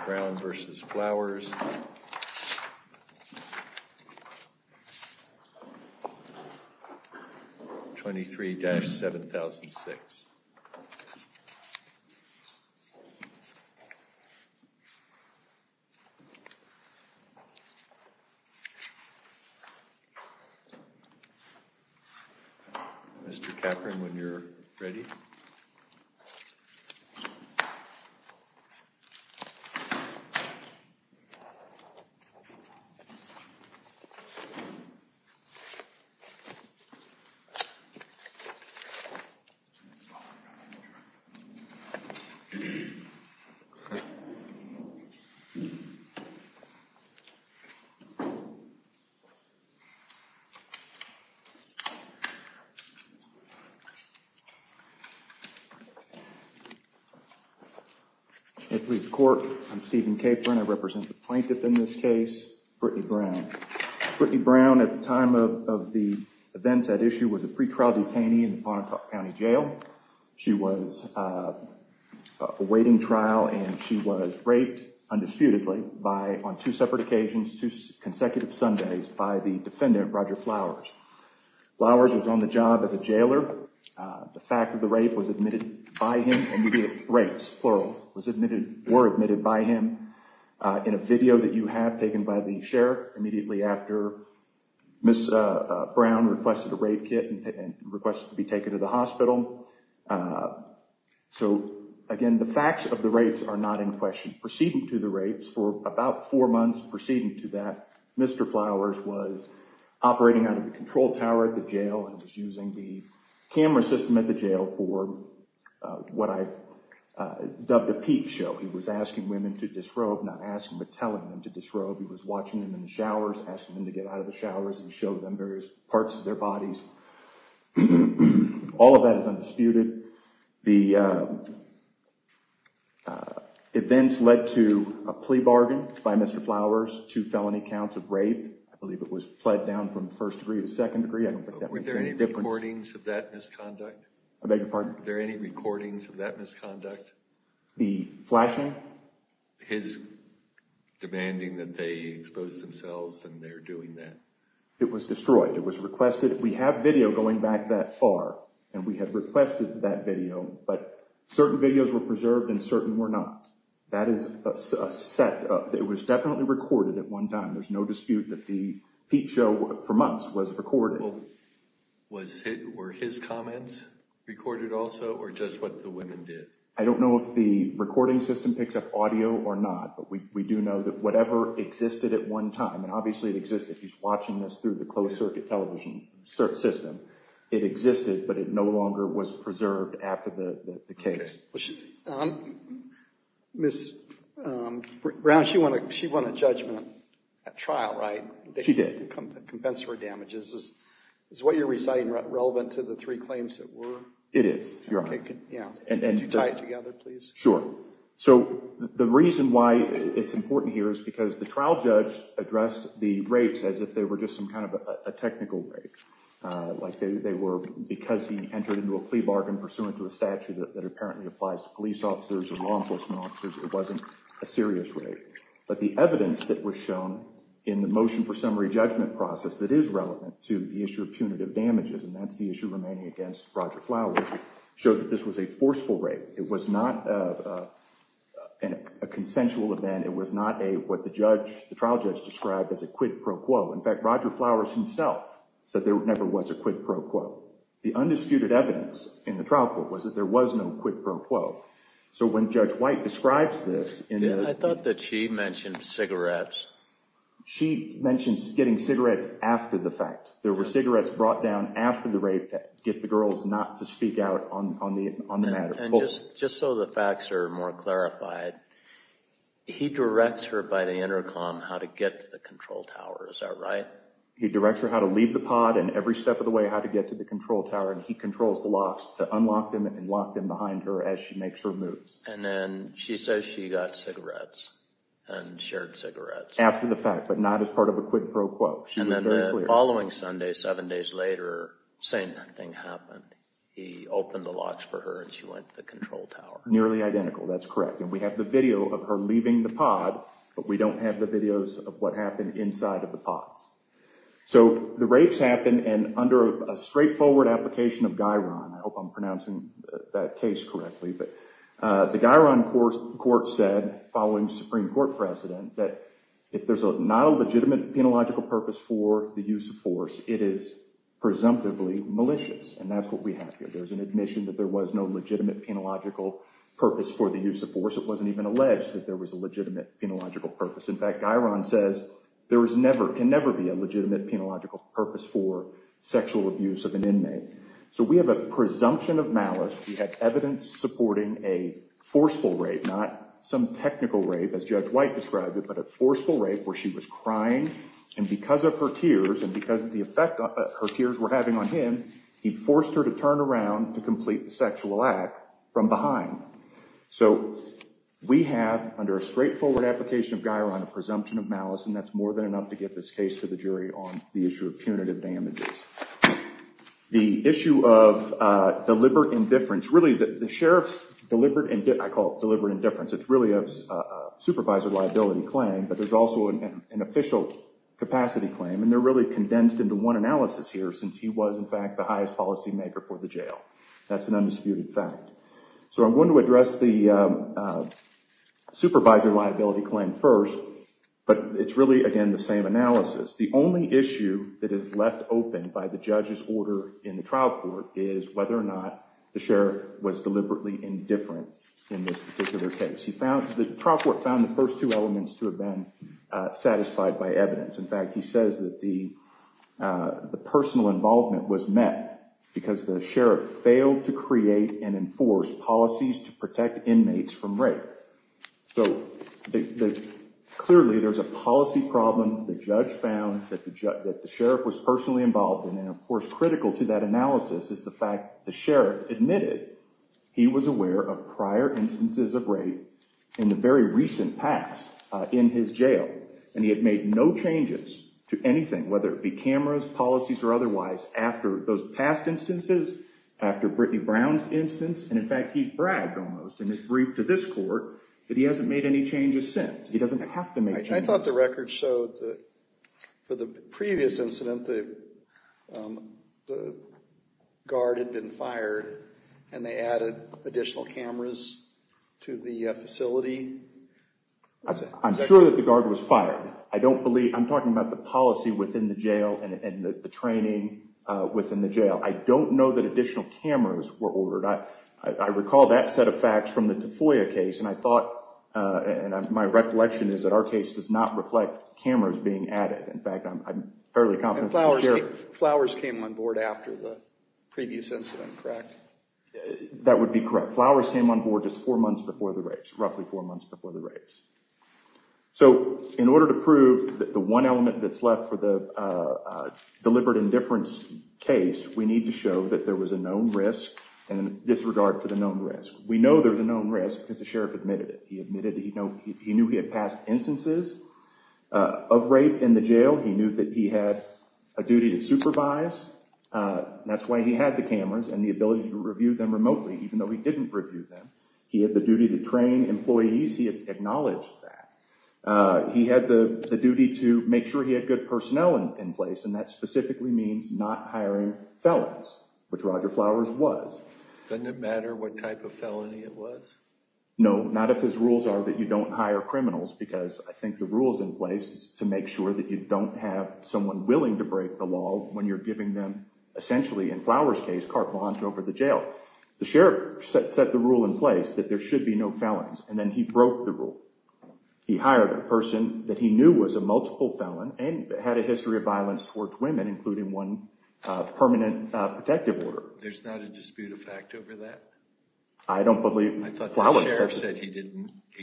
23-7006. Mr. Kaepern, when you're ready. I'm Stephen Kaepern. I represent the plaintiff in this case, Brittany Brown. Brittany Brown at the time of the events at issue was a pretrial detainee in the Pontotoc County Jail. She was awaiting trial and she was raped, undisputedly, on two separate occasions, two consecutive Sundays by the defendant, Roger Flowers. Flowers was on the job as a jailer. The fact of the rape was admitted by him and the rapes, plural, were admitted by him in a video that you have taken by the sheriff immediately after Miss Brown requested a rape kit and requested to be taken to the hospital. So, again, the facts of the rapes are not in question. Proceeding to the rapes, for about four months proceeding to that, Mr. Flowers was operating out of the control tower at the jail and was using the camera system at the jail for what I dubbed a peep show. He was asking women to disrobe, not asking but telling them to disrobe. He was watching them in the showers, asking them to get out of the showers and show them various parts of their bodies. All of that is undisputed. The events led to a plea bargain by Mr. Flowers, two felony counts of rape. I believe it was pled down from first degree to second degree. Were there any recordings of that misconduct? I beg your pardon? Were there any recordings of that misconduct? The flashing? His demanding that they expose themselves and their doing that. It was destroyed. It was requested. We have video going back that far and we have requested that video, but certain videos were preserved and certain were not. That is a set. It was definitely recorded at one time. There's no dispute that the peep show for months was recorded. Were his comments recorded also or just what the women did? I don't know if the recording system picks up audio or not, but we do know that whatever existed at one time, and obviously it existed. He's watching this through the closed circuit television system. It existed, but it no longer was preserved after the case. Ms. Brown, she won a judgment at trial, right? She did. Compensatory damages. Is what you're reciting relevant to the three claims that were? It is, Your Honor. Could you tie it together, please? Sure. So the reason why it's important here is because the trial judge addressed the rapes as if they were just some kind of a technical rape. Like they were because he entered into a plea bargain pursuant to a statute that apparently applies to police officers or law enforcement officers. It wasn't a serious rape. But the evidence that was shown in the motion for summary judgment process that is relevant to the issue of punitive damages, and that's the issue remaining against Roger Flowers, showed that this was a forceful rape. It was not a consensual event. It was not what the trial judge described as a quid pro quo. In fact, Roger Flowers himself said there never was a quid pro quo. The undisputed evidence in the trial court was that there was no quid pro quo. So when Judge White describes this… I thought that she mentioned cigarettes. She mentions getting cigarettes after the fact. There were cigarettes brought down after the rape to get the girls not to speak out on the matter. And just so the facts are more clarified, he directs her by the intercom how to get to the control tower. Is that right? He directs her how to leave the pod and every step of the way how to get to the control tower, and he controls the locks to unlock them and lock them behind her as she makes her move. And then she says she got cigarettes and shared cigarettes. After the fact, but not as part of a quid pro quo. She was very clear. And then the following Sunday, seven days later, same thing happened. He opened the locks for her and she went to the control tower. That's correct. And we have the video of her leaving the pod, but we don't have the videos of what happened inside of the pods. So the rapes happened and under a straightforward application of Guyron. I hope I'm pronouncing that case correctly. But the Guyron court said, following Supreme Court precedent, that if there's not a legitimate penological purpose for the use of force, it is presumptively malicious. And that's what we have here. There's an admission that there was no legitimate penological purpose for the use of force. It wasn't even alleged that there was a legitimate penological purpose. In fact, Guyron says there is never can never be a legitimate penological purpose for sexual abuse of an inmate. So we have a presumption of malice. We have evidence supporting a forceful rape, not some technical rape, as Judge White described it, but a forceful rape where she was crying. And because of her tears and because of the effect her tears were having on him, he forced her to turn around to complete the sexual act from behind. So we have, under a straightforward application of Guyron, a presumption of malice. And that's more than enough to get this case to the jury on the issue of punitive damages. The issue of deliberate indifference, really the sheriff's deliberate, I call it deliberate indifference. It's really a supervisor liability claim, but there's also an official capacity claim. And they're really condensed into one analysis here since he was, in fact, the highest policymaker for the jail. That's an undisputed fact. So I'm going to address the supervisor liability claim first, but it's really, again, the same analysis. The only issue that is left open by the judge's order in the trial court is whether or not the sheriff was deliberately indifferent in this particular case. The trial court found the first two elements to have been satisfied by evidence. In fact, he says that the personal involvement was met because the sheriff failed to create and enforce policies to protect inmates from rape. So clearly there's a policy problem. The judge found that the sheriff was personally involved. And then, of course, critical to that analysis is the fact the sheriff admitted he was aware of prior instances of rape in the very recent past in his jail. And he had made no changes to anything, whether it be cameras, policies, or otherwise, after those past instances, after Brittany Brown's instance. And, in fact, he's bragged almost in his brief to this court that he hasn't made any changes since. He doesn't have to make changes. I thought the record showed that for the previous incident, the guard had been fired and they added additional cameras to the facility. I'm sure that the guard was fired. I don't believe – I'm talking about the policy within the jail and the training within the jail. I don't know that additional cameras were ordered. I recall that set of facts from the Tafoya case, and I thought – and my recollection is that our case does not reflect cameras being added. In fact, I'm fairly confident that the sheriff – And flowers came on board after the previous incident, correct? That would be correct. Flowers came on board just four months before the rapes, roughly four months before the rapes. So in order to prove that the one element that's left for the deliberate indifference case, we need to show that there was a known risk and disregard for the known risk. We know there's a known risk because the sheriff admitted it. He admitted he knew he had past instances of rape in the jail. He knew that he had a duty to supervise. That's why he had the cameras and the ability to review them remotely, even though he didn't review them. He had the duty to train employees. He acknowledged that. He had the duty to make sure he had good personnel in place, and that specifically means not hiring felons, which Roger Flowers was. Doesn't it matter what type of felony it was? No, not if his rules are that you don't hire criminals, because I think the rule is in place to make sure that you don't have someone willing to break the law when you're giving them – The sheriff set the rule in place that there should be no felons, and then he broke the rule. He hired a person that he knew was a multiple felon and had a history of violence towards women, including one permanent protective order. There's not a dispute of fact over that? I don't believe Flowers – I thought the sheriff said he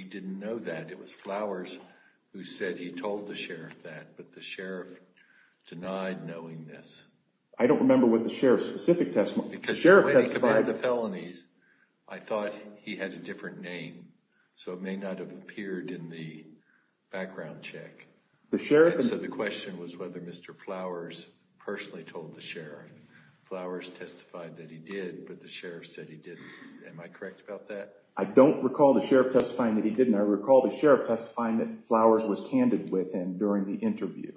didn't know that. It was Flowers who said he told the sheriff that, but the sheriff denied knowing this. I don't remember what the sheriff's specific testimony – Because the way he committed the felonies, I thought he had a different name, so it may not have appeared in the background check. The question was whether Mr. Flowers personally told the sheriff. Flowers testified that he did, but the sheriff said he didn't. Am I correct about that? I don't recall the sheriff testifying that he didn't. I recall the sheriff testifying that Flowers was candid with him during the interview.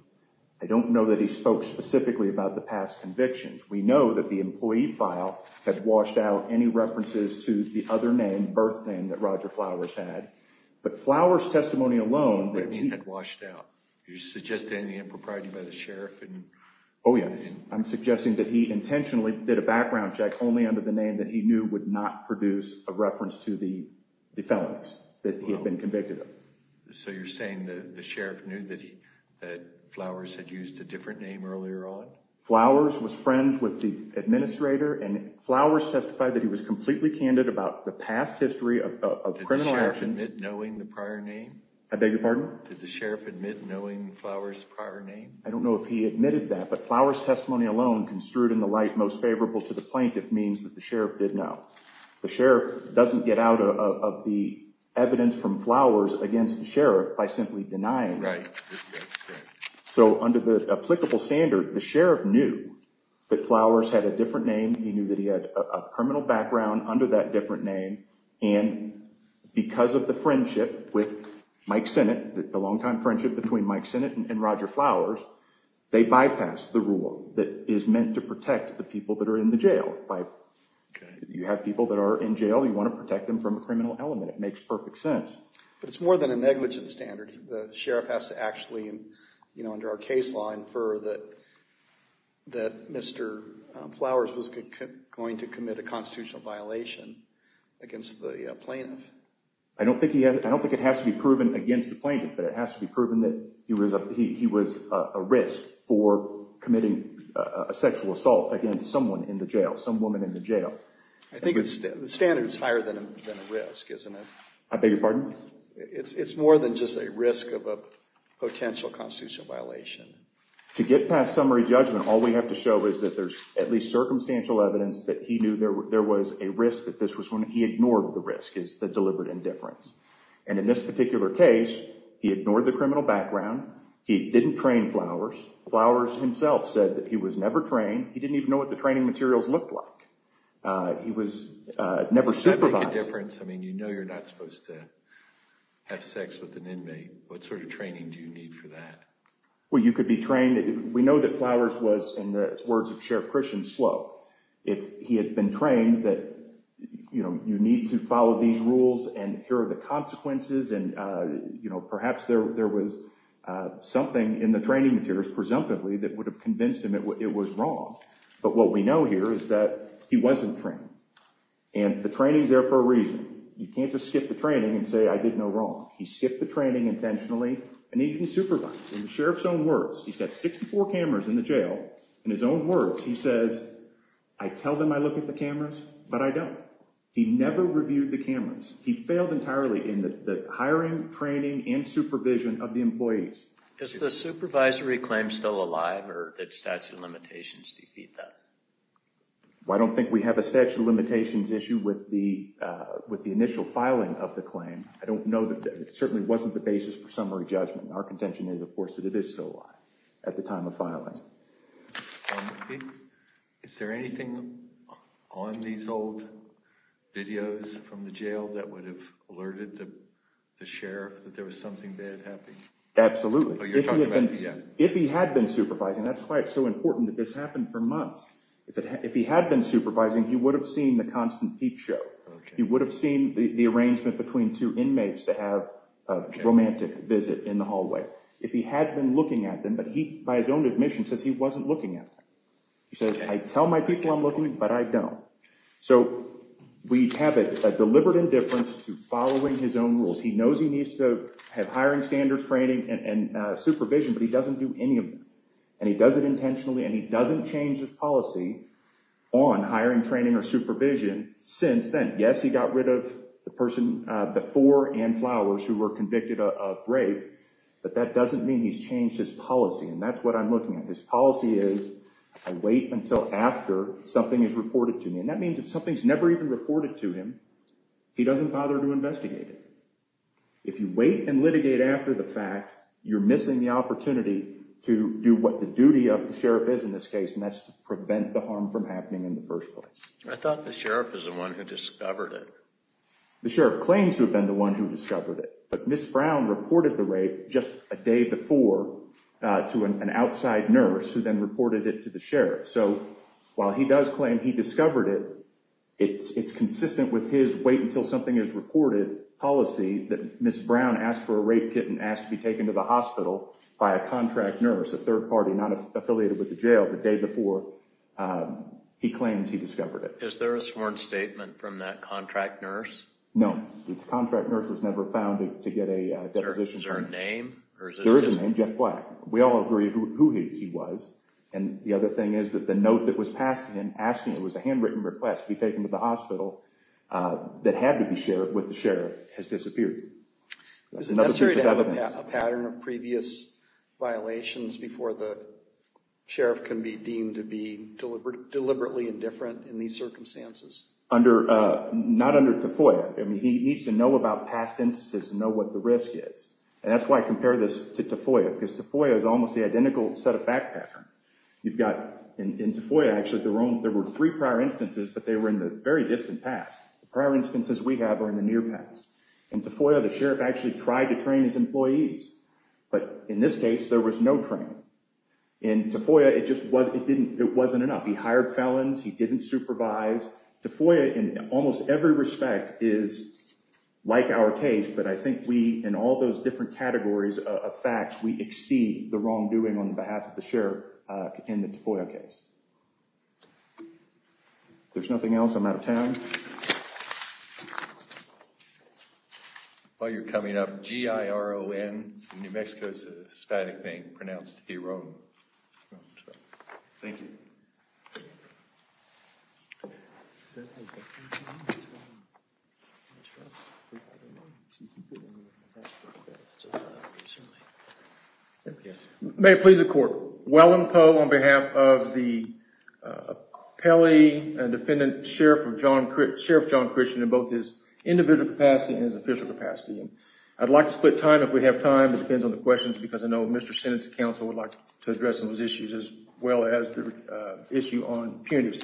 I don't know that he spoke specifically about the past convictions. We know that the employee file has washed out any references to the other name, birth name, that Roger Flowers had. But Flowers' testimony alone – What do you mean had washed out? You're suggesting the impropriety by the sheriff? Oh, yes. I'm suggesting that he intentionally did a background check only under the name that he knew would not produce a reference to the felons that he had been convicted of. So you're saying the sheriff knew that Flowers had used a different name earlier on? Flowers was friends with the administrator, and Flowers testified that he was completely candid about the past history of criminal actions – Did the sheriff admit knowing the prior name? I beg your pardon? Did the sheriff admit knowing Flowers' prior name? I don't know if he admitted that, but Flowers' testimony alone construed in the light most favorable to the plaintiff means that the sheriff did know. The sheriff doesn't get out of the evidence from Flowers against the sheriff by simply denying. Right. So under the applicable standard, the sheriff knew that Flowers had a different name. He knew that he had a criminal background under that different name. And because of the friendship with Mike Sinnott, the longtime friendship between Mike Sinnott and Roger Flowers, they bypassed the rule that is meant to protect the people that are in the jail. You have people that are in jail, you want to protect them from a criminal element. It makes perfect sense. But it's more than a negligent standard. The sheriff has to actually, you know, under our case law infer that Mr. Flowers was going to commit a constitutional violation against the plaintiff. I don't think it has to be proven against the plaintiff, but it has to be proven that he was a risk for committing a sexual assault against someone in the jail, some woman in the jail. I think the standard is higher than a risk, isn't it? I beg your pardon? It's more than just a risk of a potential constitutional violation. To get past summary judgment, all we have to show is that there's at least circumstantial evidence that he knew there was a risk that this was when he ignored the risk, the deliberate indifference. And in this particular case, he ignored the criminal background. He didn't train Flowers. Flowers himself said that he was never trained. He didn't even know what the training materials looked like. He was never supervised. Does that make a difference? I mean, you know you're not supposed to have sex with an inmate. What sort of training do you need for that? Well, you could be trained. We know that Flowers was, in the words of Sheriff Christian, slow. If he had been trained that, you know, you need to follow these rules and here are the consequences and, you know, perhaps there was something in the training materials, presumptively, that would have convinced him it was wrong. But what we know here is that he wasn't trained. And the training's there for a reason. You can't just skip the training and say, I did no wrong. He skipped the training intentionally and he didn't supervise. In the Sheriff's own words, he's got 64 cameras in the jail. In his own words, he says, I tell them I look at the cameras, but I don't. He never reviewed the cameras. He failed entirely in the hiring, training and supervision of the employees. Is the supervisory claim still alive or did statute of limitations defeat that? I don't think we have a statute of limitations issue with the with the initial filing of the claim. I don't know that it certainly wasn't the basis for summary judgment. Our contention is, of course, that it is still alive at the time of filing. Is there anything on these old videos from the jail that would have alerted the sheriff that there was something bad happening? Absolutely. If he had been supervising, that's why it's so important that this happened for months. If he had been supervising, he would have seen the constant peep show. He would have seen the arrangement between two inmates to have a romantic visit in the hallway. If he had been looking at them, but he, by his own admission, says he wasn't looking at them. He says, I tell my people I'm looking, but I don't. So we have a deliberate indifference to following his own rules. He knows he needs to have hiring standards, training and supervision, but he doesn't do any of it. And he does it intentionally and he doesn't change his policy on hiring, training or supervision. Since then, yes, he got rid of the person before and flowers who were convicted of rape. But that doesn't mean he's changed his policy. And that's what I'm looking at. His policy is I wait until after something is reported to me. And that means if something's never even reported to him, he doesn't bother to investigate it. If you wait and litigate after the fact, you're missing the opportunity to do what the duty of the sheriff is in this case. And that's to prevent the harm from happening in the first place. I thought the sheriff is the one who discovered it. The sheriff claims to have been the one who discovered it. But Ms. Brown reported the rape just a day before to an outside nurse who then reported it to the sheriff. So while he does claim he discovered it, it's consistent with his wait until something is reported policy that Ms. Brown asked for a rape kit and asked to be taken to the hospital by a contract nurse, a third party not affiliated with the jail the day before he claims he discovered it. Is there a sworn statement from that contract nurse? No. The contract nurse was never found to get a deposition. Is there a name? There is a name, Jeff Black. We all agree who he was. And the other thing is that the note that was passed to him asking it was a handwritten request to be taken to the hospital that had to be shared with the sheriff has disappeared. Is it necessary to have a pattern of previous violations before the sheriff can be deemed to be deliberately indifferent in these circumstances? Not under TFOIA. He needs to know about past instances and know what the risk is. And that's why I compare this to TFOIA, because TFOIA is almost the identical set of fact pattern. You've got in TFOIA, actually, there were three prior instances, but they were in the very distant past. The prior instances we have are in the near past. In TFOIA, the sheriff actually tried to train his employees, but in this case, there was no training. In TFOIA, it just wasn't enough. He hired felons. He didn't supervise. TFOIA, in almost every respect, is like our case, but I think we, in all those different categories of facts, we exceed the wrongdoing on behalf of the sheriff in the TFOIA case. If there's nothing else, I'm out of time. Thank you. While you're coming up, G-I-R-O-N. In New Mexico, it's a Hispanic name pronounced G-I-R-O-N. Thank you. May it please the court. Wellen Poe on behalf of the appellee and defendant, Sheriff John Christian, in both his individual capacity and his official capacity. I'd like to split time if we have time. It depends on the questions because I know Mr. Senate's counsel would like to address those issues as well as the issue on punitive.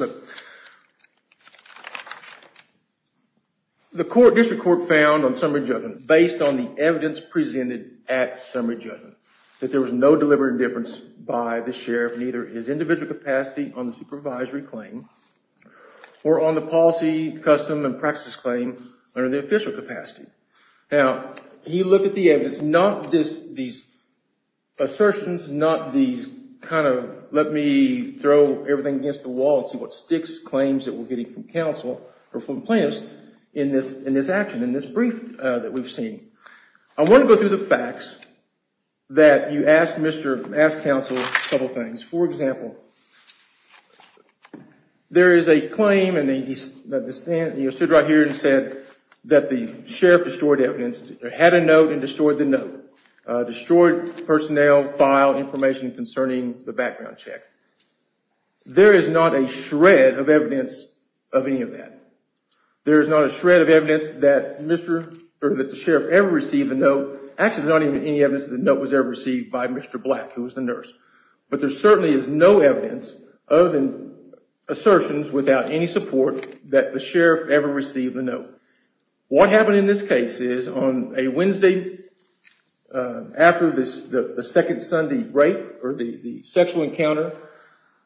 The district court found on summary judgment, based on the evidence presented at summary judgment, that there was no deliberate indifference by the sheriff, neither his individual capacity on the supervisory claim, or on the policy, custom, and practice claim under the official capacity. Now, he looked at the evidence, not these assertions, not these kind of, let me throw everything against the wall and see what sticks, claims that we're getting from counsel, or from plaintiffs, in this action, in this brief that we've seen. I want to go through the facts that you asked counsel a couple things. For example, there is a claim, and he stood right here and said that the sheriff destroyed evidence, had a note and destroyed the note, destroyed personnel, file, information concerning the background check. There is not a shred of evidence of any of that. There is not a shred of evidence that the sheriff ever received a note. Actually, there's not any evidence that the note was ever received by Mr. Black, who was the nurse. But there certainly is no evidence, other than assertions without any support, that the sheriff ever received a note. What happened in this case is, on a Wednesday, after the second Sunday rape, or the sexual encounter,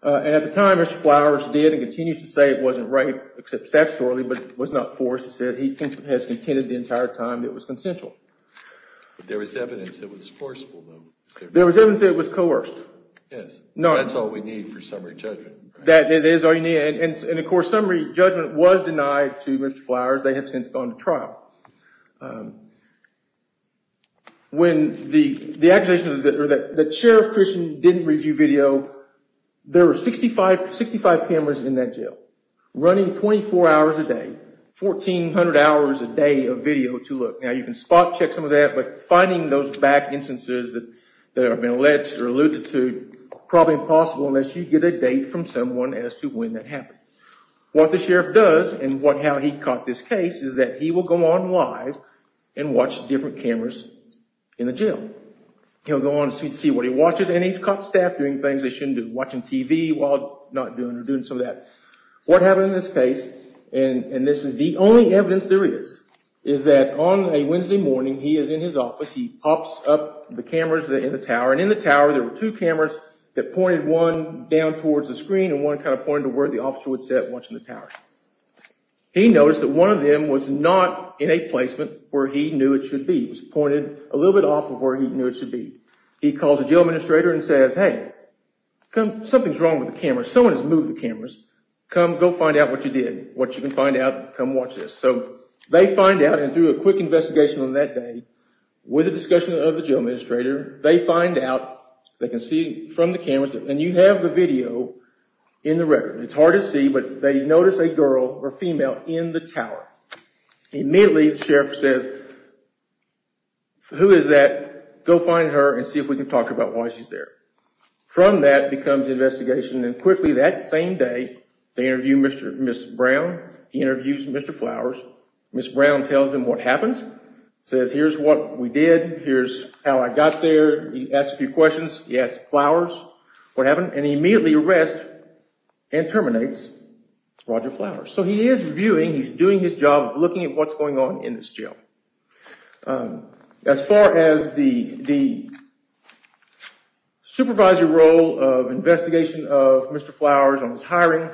and at the time Mr. Flowers did and continues to say it wasn't rape, except statutorily, but was not forced, he said he has contended the entire time it was consensual. There was evidence it was forceful, though. There was evidence it was coerced. Yes, that's all we need for summary judgment. That is all you need. And of course, summary judgment was denied to Mr. Flowers. They have since gone to trial. When the accusations that Sheriff Christian didn't review video, there were 65 cameras in that jail, running 24 hours a day, 1,400 hours a day of video to look. Now, you can spot check some of that, but finding those back instances that have been alleged or alluded to, probably impossible unless you get a date from someone as to when that happened. What the sheriff does, and how he caught this case, is that he will go on live and watch different cameras in the jail. He'll go on to see what he watches, and he's caught staff doing things they shouldn't do, watching TV while not doing, or doing some of that. What happened in this case, and this is the only evidence there is, is that on a Wednesday morning, he is in his office, he pops up the cameras in the tower, and in the tower there were two cameras that pointed one down towards the screen and one kind of pointed to where the officer would sit watching the tower. He noticed that one of them was not in a placement where he knew it should be. It was pointed a little bit off of where he knew it should be. He calls the jail administrator and says, hey, something's wrong with the cameras. If someone has moved the cameras, come go find out what you did. What you can find out, come watch this. They find out, and through a quick investigation on that day, with the discussion of the jail administrator, they find out, they can see from the cameras, and you have the video in the record. It's hard to see, but they notice a girl or female in the tower. Immediately, the sheriff says, who is that? Go find her and see if we can talk about why she's there. From that comes the investigation, and quickly that same day, they interview Mr. Brown. He interviews Mr. Flowers. Mr. Brown tells him what happened. He says, here's what we did. Here's how I got there. He asks a few questions. He asks Flowers what happened, and he immediately arrests and terminates Roger Flowers. So he is reviewing, he's doing his job of looking at what's going on in this jail. As far as the supervisor role of investigation of Mr. Flowers on his hiring,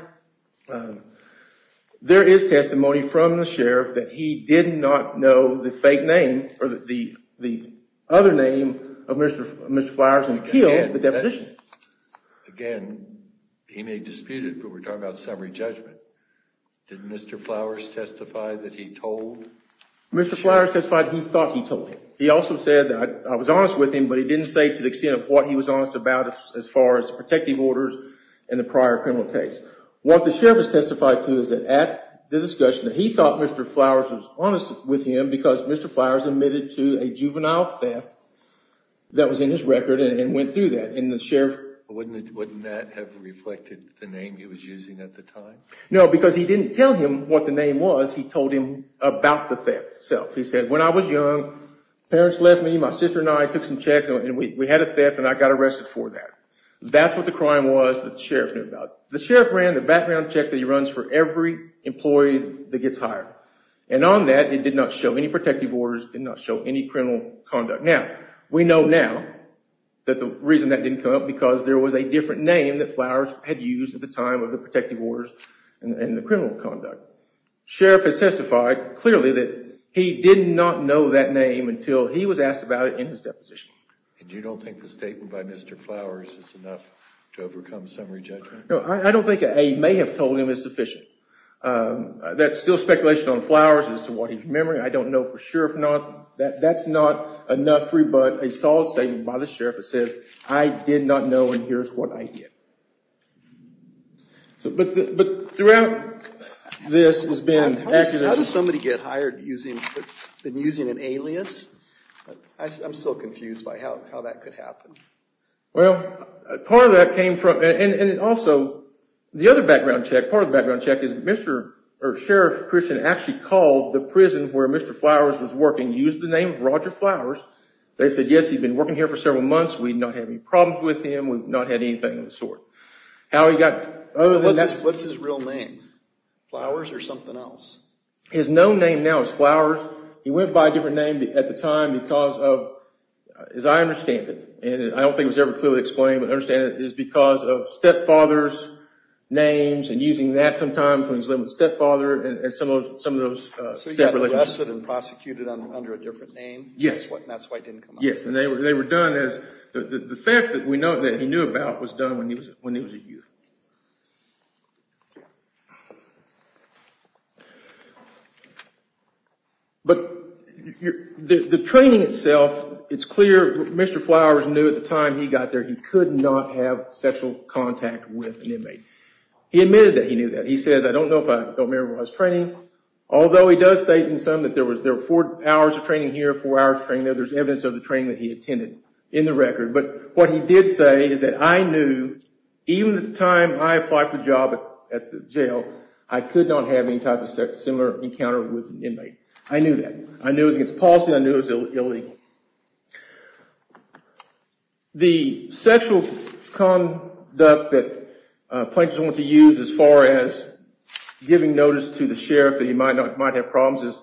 there is testimony from the sheriff that he did not know the fake name, or the other name of Mr. Flowers until the deposition. Again, he may dispute it, but we're talking about summary judgment. Did Mr. Flowers testify that he told? Mr. Flowers testified he thought he told him. He also said that I was honest with him, but he didn't say to the extent of what he was honest about as far as protective orders in the prior criminal case. What the sheriff has testified to is that at the discussion, he thought Mr. Flowers was honest with him because Mr. Flowers admitted to a juvenile theft that was in his record and went through that. Wouldn't that have reflected the name he was using at the time? No, because he didn't tell him what the name was. He told him about the theft itself. He said, when I was young, parents left me, my sister and I took some checks, and we had a theft and I got arrested for that. That's what the crime was that the sheriff knew about. The sheriff ran the background check that he runs for every employee that gets hired. And on that, it did not show any protective orders. It did not show any criminal conduct. Now, we know now that the reason that didn't come up because there was a different name that Flowers had used at the time of the protective orders and the criminal conduct. Sheriff has testified clearly that he did not know that name until he was asked about it in his deposition. And you don't think the statement by Mr. Flowers is enough to overcome summary judgment? No, I don't think I may have told him it's sufficient. That's still speculation on Flowers as to what he's remembering. I don't know for sure if not. That's not enough to rebut a solid statement by the sheriff that says, I did not know and here's what I did. But throughout this has been… How does somebody get hired using an alias? I'm still confused by how that could happen. Well, part of that came from, and also, the other background check, part of the background check is Sheriff Christian actually called the prison where Mr. Flowers was working, used the name Roger Flowers. They said, yes, he's been working here for several months. We've not had any problems with him. We've not had anything of the sort. What's his real name? Flowers or something else? His known name now is Flowers. He went by a different name at the time because of, as I understand it, and I don't think it was ever clearly explained, but I understand it is because of stepfather's names and using that sometimes when he was living with stepfather and some of those… So he got arrested and prosecuted under a different name? Yes. That's why it didn't come up. Yes, and they were done as… The fact that we know that he knew about was done when he was a youth. But the training itself, it's clear Mr. Flowers knew at the time he got there he could not have sexual contact with an inmate. He admitted that he knew that. He says, I don't know if I remember when I was training, although he does state in some that there were four hours of training here, four hours of training there, there's evidence of the training that he attended in the record. But what he did say is that I knew even at the time I applied for a job at the jail, I could not have any type of similar encounter with an inmate. I knew that. I knew it was against policy. I knew it was illegal. The sexual conduct that plaintiffs wanted to use as far as giving notice to the sheriff that he might have problems is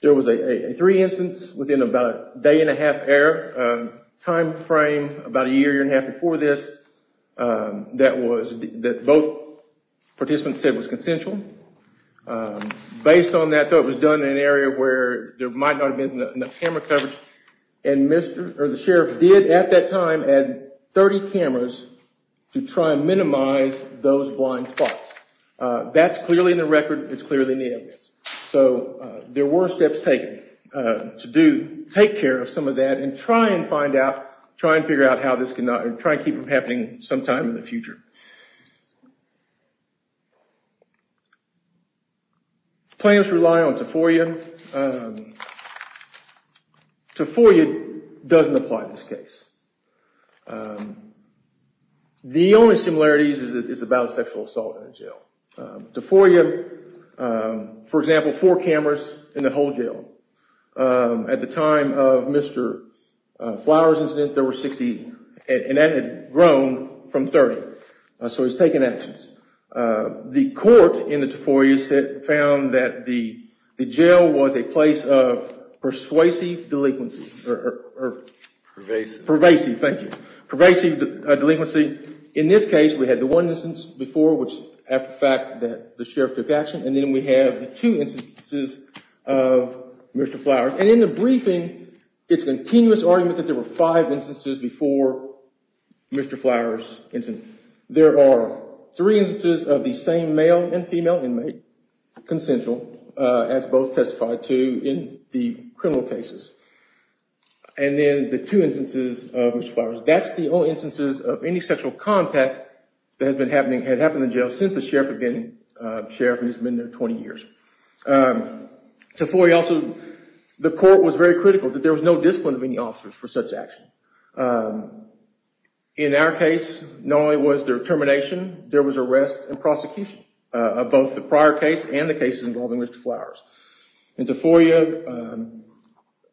there was a three instance within about a day and a half time frame, about a year and a half before this, that both participants said was consensual. Based on that, it was done in an area where there might not have been enough camera coverage and the sheriff did at that time add 30 cameras to try and minimize those blind spots. That's clearly in the record. It's clearly in the evidence. So there were steps taken to take care of some of that and try and figure out how this can keep from happening sometime in the future. Plaintiffs rely on TIFOIA. TIFOIA doesn't apply in this case. The only similarities is that it's about a sexual assault in a jail. TIFOIA, for example, four cameras in the whole jail. At the time of Mr. Flowers' incident, there were 60 and that had grown from 30. So it's taken actions. The court in the TIFOIA found that the jail was a place of persuasive delinquency. Pervasive. Pervasive, thank you. Pervasive delinquency. In this case, we had the one instance before which, after the fact, the sheriff took action and then we have the two instances of Mr. Flowers. And in the briefing, it's a continuous argument that there were five instances before Mr. Flowers' incident. There are three instances of the same male and female inmate, consensual, as both testified to in the criminal cases. And then the two instances of Mr. Flowers. That's the only instances of any sexual contact that had happened in jail since the sheriff has been there 20 years. TIFOIA also, the court was very critical that there was no discipline of any officers for such action. In our case, not only was there termination, there was arrest and prosecution of both the prior case and the case involving Mr. Flowers. In TIFOIA,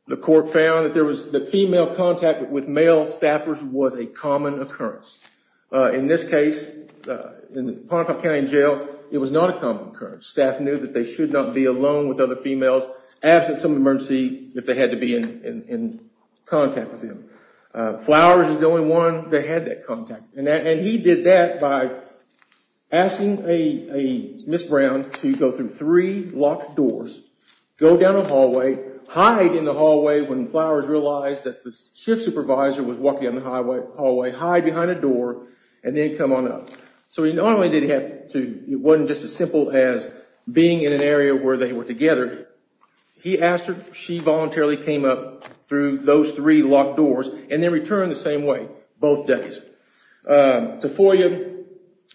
the court found that the female contact with male staffers was a common occurrence. In this case, in Pontefract County Jail, it was not a common occurrence. Staff knew that they should not be alone with other females, absent some emergency, if they had to be in contact with them. Flowers is the only one that had that contact. And he did that by asking Ms. Brown to go through three locked doors, go down a hallway, hide in the hallway when Flowers realized that the shift supervisor was walking down the hallway, hide behind a door, and then come on up. So it wasn't just as simple as being in an area where they were together. He asked her, she voluntarily came up through those three locked doors and then returned the same way both days. TIFOIA,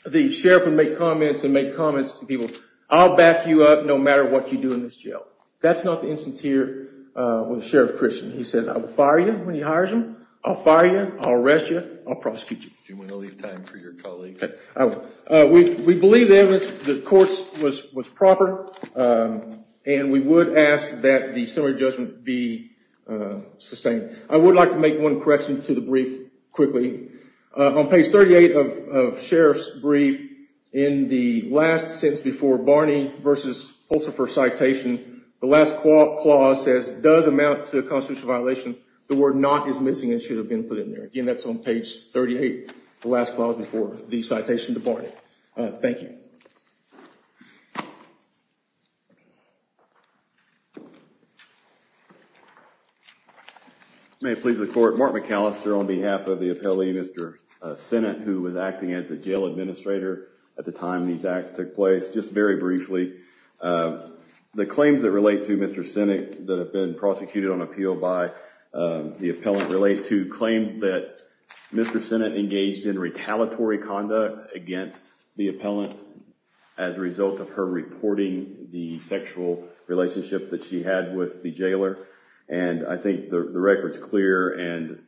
the sheriff would make comments and make comments to people, I'll back you up no matter what you do in this jail. That's not the instance here with Sheriff Christian. He says, I will fire you when he hires you, I'll fire you, I'll arrest you, I'll prosecute you. Do you want to leave time for your colleague? We believe that the court was proper, and we would ask that the summary judgment be sustained. I would like to make one correction to the brief quickly. On page 38 of Sheriff's brief, in the last sentence before Barney v. Pulsifer citation, the last clause says, does amount to a constitutional violation, the word not is missing and should have been put in there. Again, that's on page 38, the last clause before the citation to Barney. Thank you. May it please the court, Mark McAllister on behalf of the appellee, Mr. Sennett, who was acting as the jail administrator at the time these acts took place. Just very briefly, the claims that relate to Mr. Sennett that have been prosecuted on appeal by the appellant relate to claims that Mr. Sennett engaged in retaliatory conduct against the appellant as a result of her reporting the sexual relationship that she had with the jailer. And I think the record's clear, and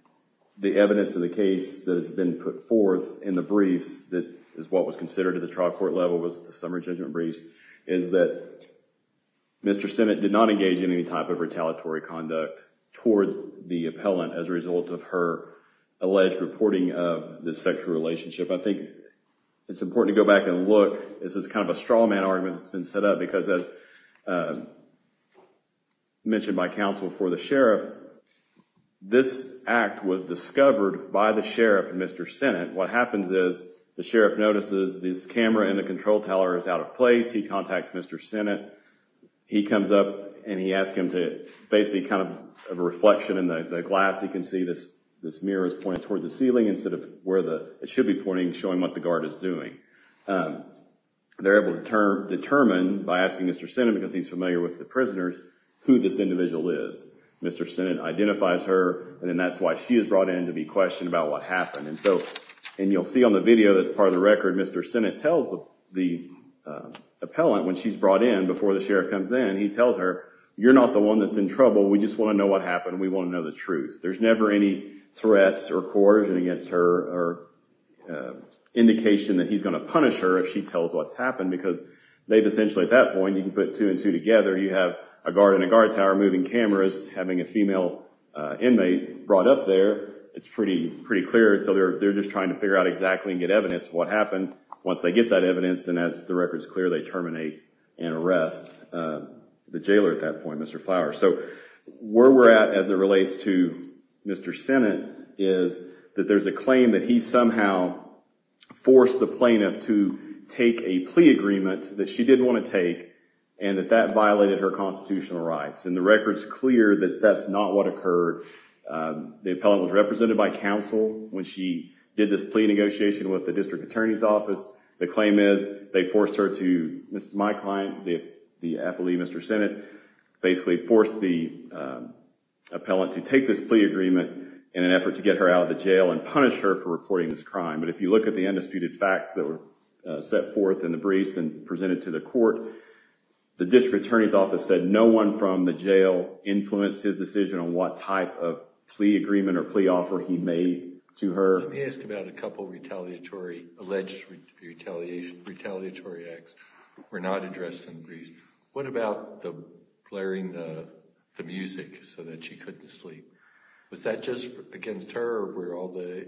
the evidence of the case that has been put forth in the briefs that is what was considered at the trial court level was the summary judgment briefs, is that Mr. Sennett did not engage in any type of retaliatory conduct toward the appellant as a result of her alleged reporting of the sexual relationship. I think it's important to go back and look. This is kind of a straw man argument that's been set up because as mentioned by counsel for the sheriff, this act was discovered by the sheriff and Mr. Sennett. What happens is the sheriff notices this camera in the control tower is out of place. He contacts Mr. Sennett. He comes up and he asks him to basically kind of a reflection in the glass. He can see this mirror is pointed toward the ceiling instead of where it should be pointing, showing what the guard is doing. They're able to determine by asking Mr. Sennett, because he's familiar with the prisoners, who this individual is. Mr. Sennett identifies her, and that's why she is brought in to be questioned about what happened. You'll see on the video that's part of the record, Mr. Sennett tells the appellant when she's brought in, before the sheriff comes in, he tells her, you're not the one that's in trouble. We just want to know what happened. We want to know the truth. There's never any threats or coercion against her or indication that he's going to punish her if she tells what's happened because they've essentially at that point, you can put two and two together. You have a guard in a guard tower moving cameras, having a female inmate brought up there. It's pretty clear. They're just trying to figure out exactly and get evidence of what happened. Once they get that evidence, then as the record's clear, they terminate and arrest the jailer at that point, Mr. Flower. Where we're at as it relates to Mr. Sennett is that there's a claim that he somehow forced the plaintiff to take a plea agreement that she didn't want to take and that that violated her constitutional rights. The record's clear that that's not what occurred. The appellant was represented by counsel when she did this plea negotiation with the district attorney's office. The claim is they forced her to, my client, the appellee, Mr. Sennett, basically forced the appellant to take this plea agreement in an effort to get her out of the jail and punish her for reporting this crime. But if you look at the undisputed facts that were set forth in the briefs and presented to the court, the district attorney's office said no one from the jail influenced his decision on what type of plea agreement or plea offer he made to her. Let me ask about a couple of retaliatory, alleged retaliatory acts. We're not addressing these. What about the blaring the music so that she couldn't sleep? Was that just against her or were all the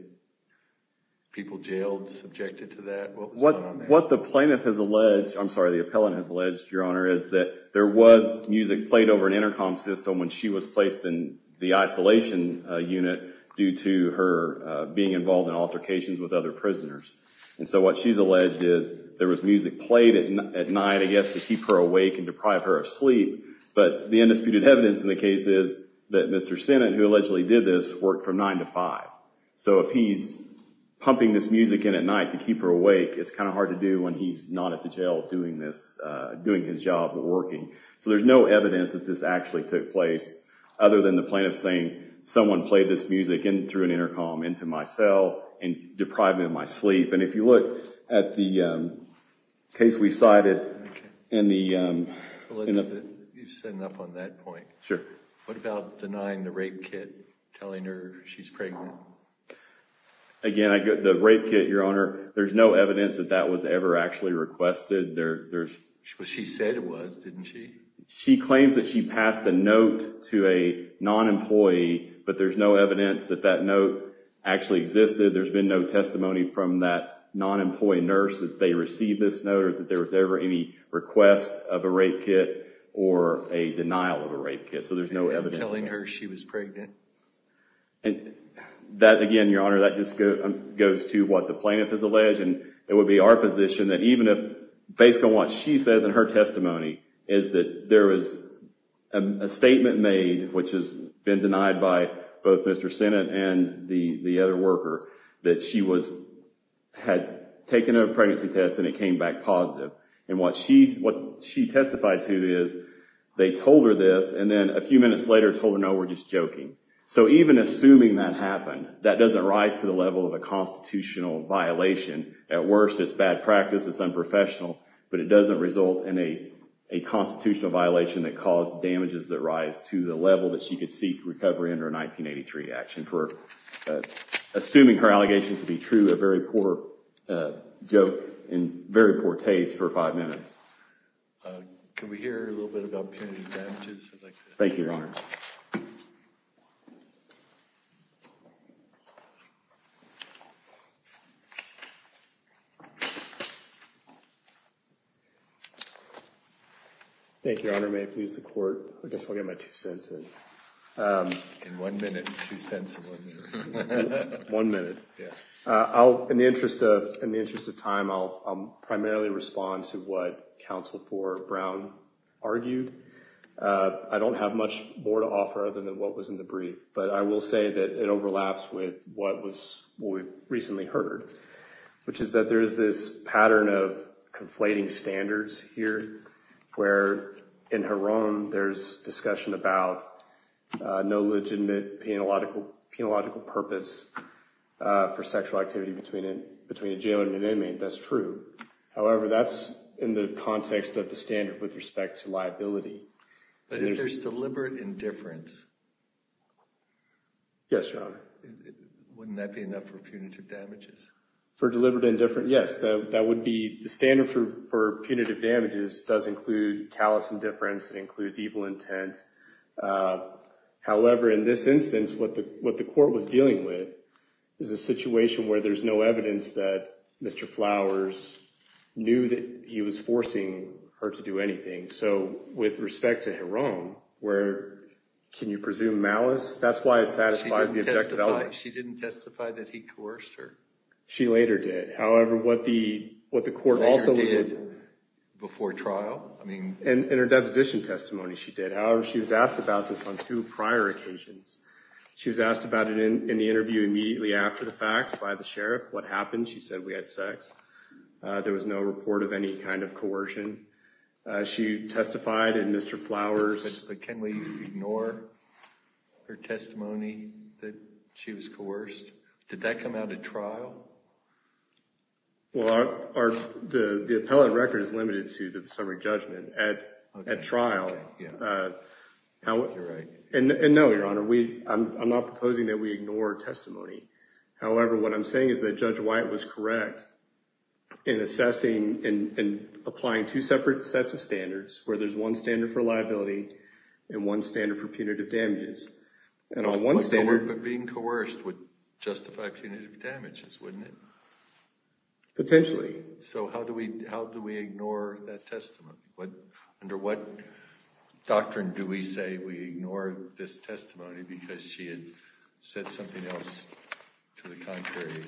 people jailed subjected to that? What the plaintiff has alleged, I'm sorry, the appellant has alleged, Your Honor, is that there was music played over an intercom system when she was placed in the isolation unit due to her being involved in altercations with other prisoners. And so what she's alleged is there was music played at night, I guess, to keep her awake and deprive her of sleep. But the undisputed evidence in the case is that Mr. Sennett, who allegedly did this, worked from 9 to 5. So if he's pumping this music in at night to keep her awake, it's kind of hard to do when he's not at the jail doing this, doing his job or working. So there's no evidence that this actually took place other than the plaintiff saying someone played this music through an intercom into my cell and deprived me of my sleep. And if you look at the case we cited and the— You're setting up on that point. Sure. What about denying the rape kit, telling her she's pregnant? Again, the rape kit, Your Honor, there's no evidence that that was ever actually requested. She said it was, didn't she? She claims that she passed a note to a non-employee, but there's no evidence that that note actually existed. There's been no testimony from that non-employee nurse that they received this note or that there was ever any request of a rape kit or a denial of a rape kit. So there's no evidence of that. Telling her she was pregnant. That, again, Your Honor, that just goes to what the plaintiff has alleged. It would be our position that even if, based on what she says in her testimony, is that there was a statement made, which has been denied by both Mr. Sinnott and the other worker, that she had taken a pregnancy test and it came back positive. And what she testified to is they told her this and then a few minutes later told her, no, we're just joking. So even assuming that happened, that doesn't rise to the level of a constitutional violation. At worst, it's bad practice, it's unprofessional, but it doesn't result in a constitutional violation that caused damages that rise to the level that she could seek recovery under a 1983 action for assuming her allegations to be true, a very poor joke and very poor taste for five minutes. Can we hear a little bit about punitive damages? Thank you, Your Honor. Thank you, Your Honor. May it please the court. I guess I'll get my two cents in. In one minute, two cents or one minute. One minute. In the interest of time, I'll primarily respond to what Counsel for Brown argued. I don't have much more to offer other than what was in the brief, but I will say that it overlaps with what we recently heard, which is that there is this pattern of conflating standards here, where in her own there's discussion about no legitimate penological purpose for sexual activity between a jailer and an inmate, that's true. However, that's in the context of the standard with respect to liability. But if there's deliberate indifference, wouldn't that be enough for punitive damages? For deliberate indifference, yes. That would be the standard for punitive damages does include callous indifference. It includes evil intent. However, in this instance, what the court was dealing with is a situation where there's no evidence that Mr. Flowers knew that he was forcing her to do anything. So with respect to Jerome, where can you presume malice? That's why it satisfies the objective element. She didn't testify that he coerced her. She later did. However, what the court also did— Later did before trial? In her deposition testimony, she did. However, she was asked about this on two prior occasions. She was asked about it in the interview immediately after the fact by the sheriff. What happened? She said we had sex. There was no report of any kind of coercion. She testified, and Mr. Flowers— But can we ignore her testimony that she was coerced? Did that come out at trial? Well, the appellate record is limited to the summary judgment. At trial— You're right. And no, Your Honor, I'm not proposing that we ignore testimony. However, what I'm saying is that Judge White was correct in assessing and applying two separate sets of standards, where there's one standard for liability and one standard for punitive damages. But being coerced would justify punitive damages, wouldn't it? Potentially. So how do we ignore that testimony? Under what doctrine do we say we ignore this testimony because she had said something else to the contrary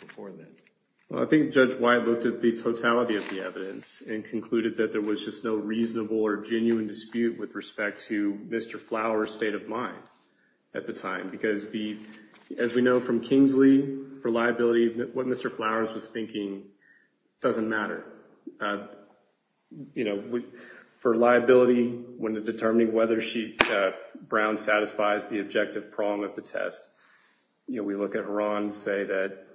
before that? Well, I think Judge White looked at the totality of the evidence and concluded that there was just no reasonable or genuine dispute with respect to Mr. Flowers' state of mind at the time. Because, as we know from Kingsley, for liability, what Mr. Flowers was thinking doesn't matter. For liability, when determining whether Brown satisfies the objective prong of the test, we look at her and say that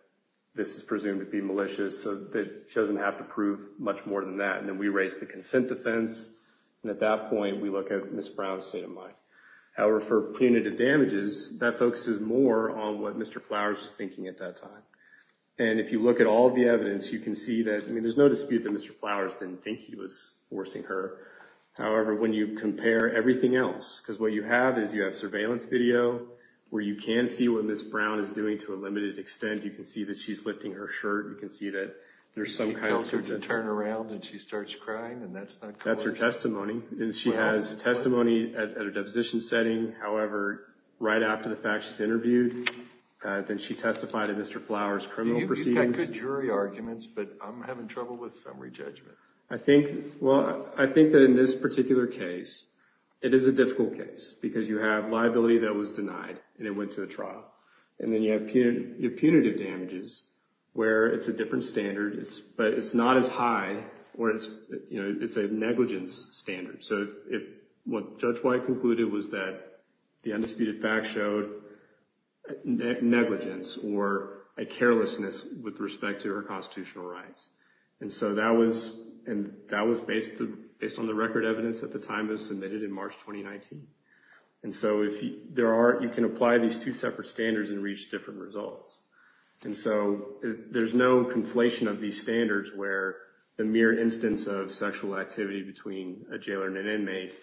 this is presumed to be malicious so that she doesn't have to prove much more than that. And then we raise the consent defense. And at that point, we look at Ms. Brown's state of mind. However, for punitive damages, that focuses more on what Mr. Flowers was thinking at that time. And if you look at all of the evidence, you can see that there's no dispute that Mr. Flowers didn't think he was forcing her. However, when you compare everything else, because what you have is you have surveillance video where you can see what Ms. Brown is doing to a limited extent. You can see that she's lifting her shirt. You can see that there's some kind of— She tells her to turn around and she starts crying, and that's not— That's her testimony. And she has testimony at a deposition setting. However, right after the fact, she's interviewed. Then she testified in Mr. Flowers' criminal proceedings. You've got good jury arguments, but I'm having trouble with summary judgment. Well, I think that in this particular case, it is a difficult case because you have liability that was denied and it went to a trial. And then you have punitive damages where it's a different standard, but it's not as high or it's a negligence standard. So what Judge White concluded was that the undisputed fact showed negligence or a carelessness with respect to her constitutional rights. And so that was based on the record evidence at the time it was submitted in March 2019. And so you can apply these two separate standards and reach different results. And so there's no conflation of these standards where the mere instance of sexual activity between a jailer and an inmate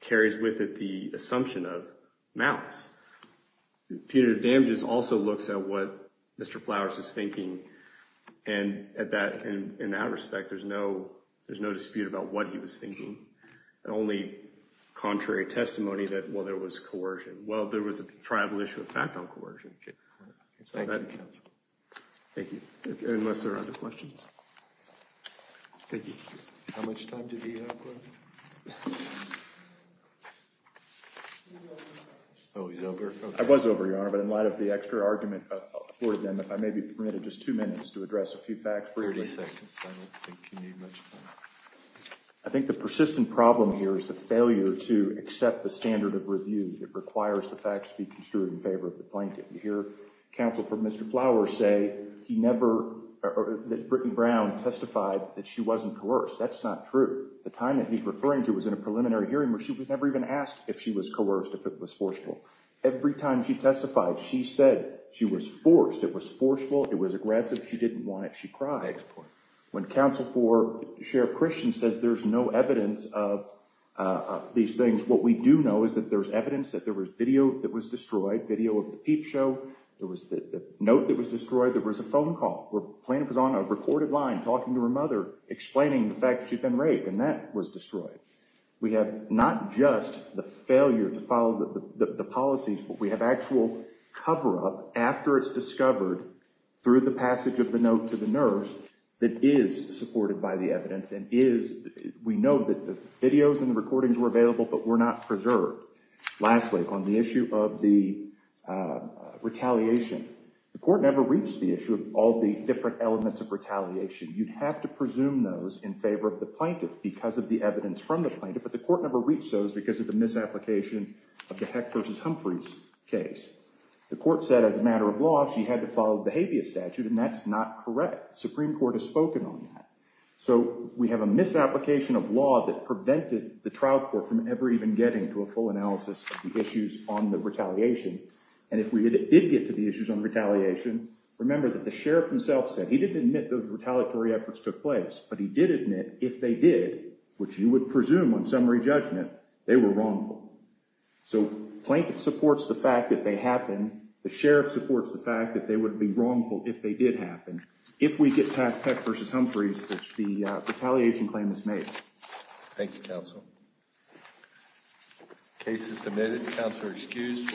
carries with it the assumption of malice. Punitive damages also looks at what Mr. Flowers is thinking. And in that respect, there's no dispute about what he was thinking. The only contrary testimony that, well, there was coercion. Well, there was a tribal issue of fact on coercion. Thank you. Thank you. Unless there are other questions. Thank you. How much time do we have left? Oh, he's over. I was over, Your Honor, but in light of the extra argument for them, if I may be permitted just two minutes to address a few facts briefly. Thirty seconds. I don't think you need much time. I think the persistent problem here is the failure to accept the standard of review that requires the facts to be construed in favor of the plaintiff. You hear counsel for Mr. Flowers say he never or that Brittany Brown testified that she wasn't coerced. That's not true. The time that he's referring to was in a preliminary hearing where she was never even asked if she was coerced, if it was forceful. Every time she testified, she said she was forced. It was forceful. It was aggressive. She didn't want it. She cried. When counsel for Sheriff Christian says there's no evidence of these things, what we do know is that there's evidence that there was video that was destroyed, video of the peep show. There was the note that was destroyed. There was a phone call. Plaintiff was on a recorded line talking to her mother, explaining the fact that she'd been raped, and that was destroyed. We have not just the failure to follow the policies, but we have actual cover-up after it's discovered through the passage of the note to the nurse that is supported by the evidence and is. We know that the videos and the recordings were available, but were not preserved. Lastly, on the issue of the retaliation, the court never reached the issue of all the different elements of retaliation. You'd have to presume those in favor of the plaintiff because of the evidence from the plaintiff, but the court never reached those because of the misapplication of the Heck v. Humphreys case. The court said as a matter of law she had to follow the habeas statute, and that's not correct. The Supreme Court has spoken on that. So we have a misapplication of law that prevented the trial court from ever even getting to a full analysis of the issues on the retaliation. And if we did get to the issues on retaliation, remember that the sheriff himself said he didn't admit those retaliatory efforts took place, but he did admit if they did, which you would presume on summary judgment, they were wrongful. So plaintiff supports the fact that they happened. The sheriff supports the fact that they would be wrongful if they did happen. If we get past Heck v. Humphreys, the retaliation claim is made. Thank you, counsel. Case is submitted. Counselor excused.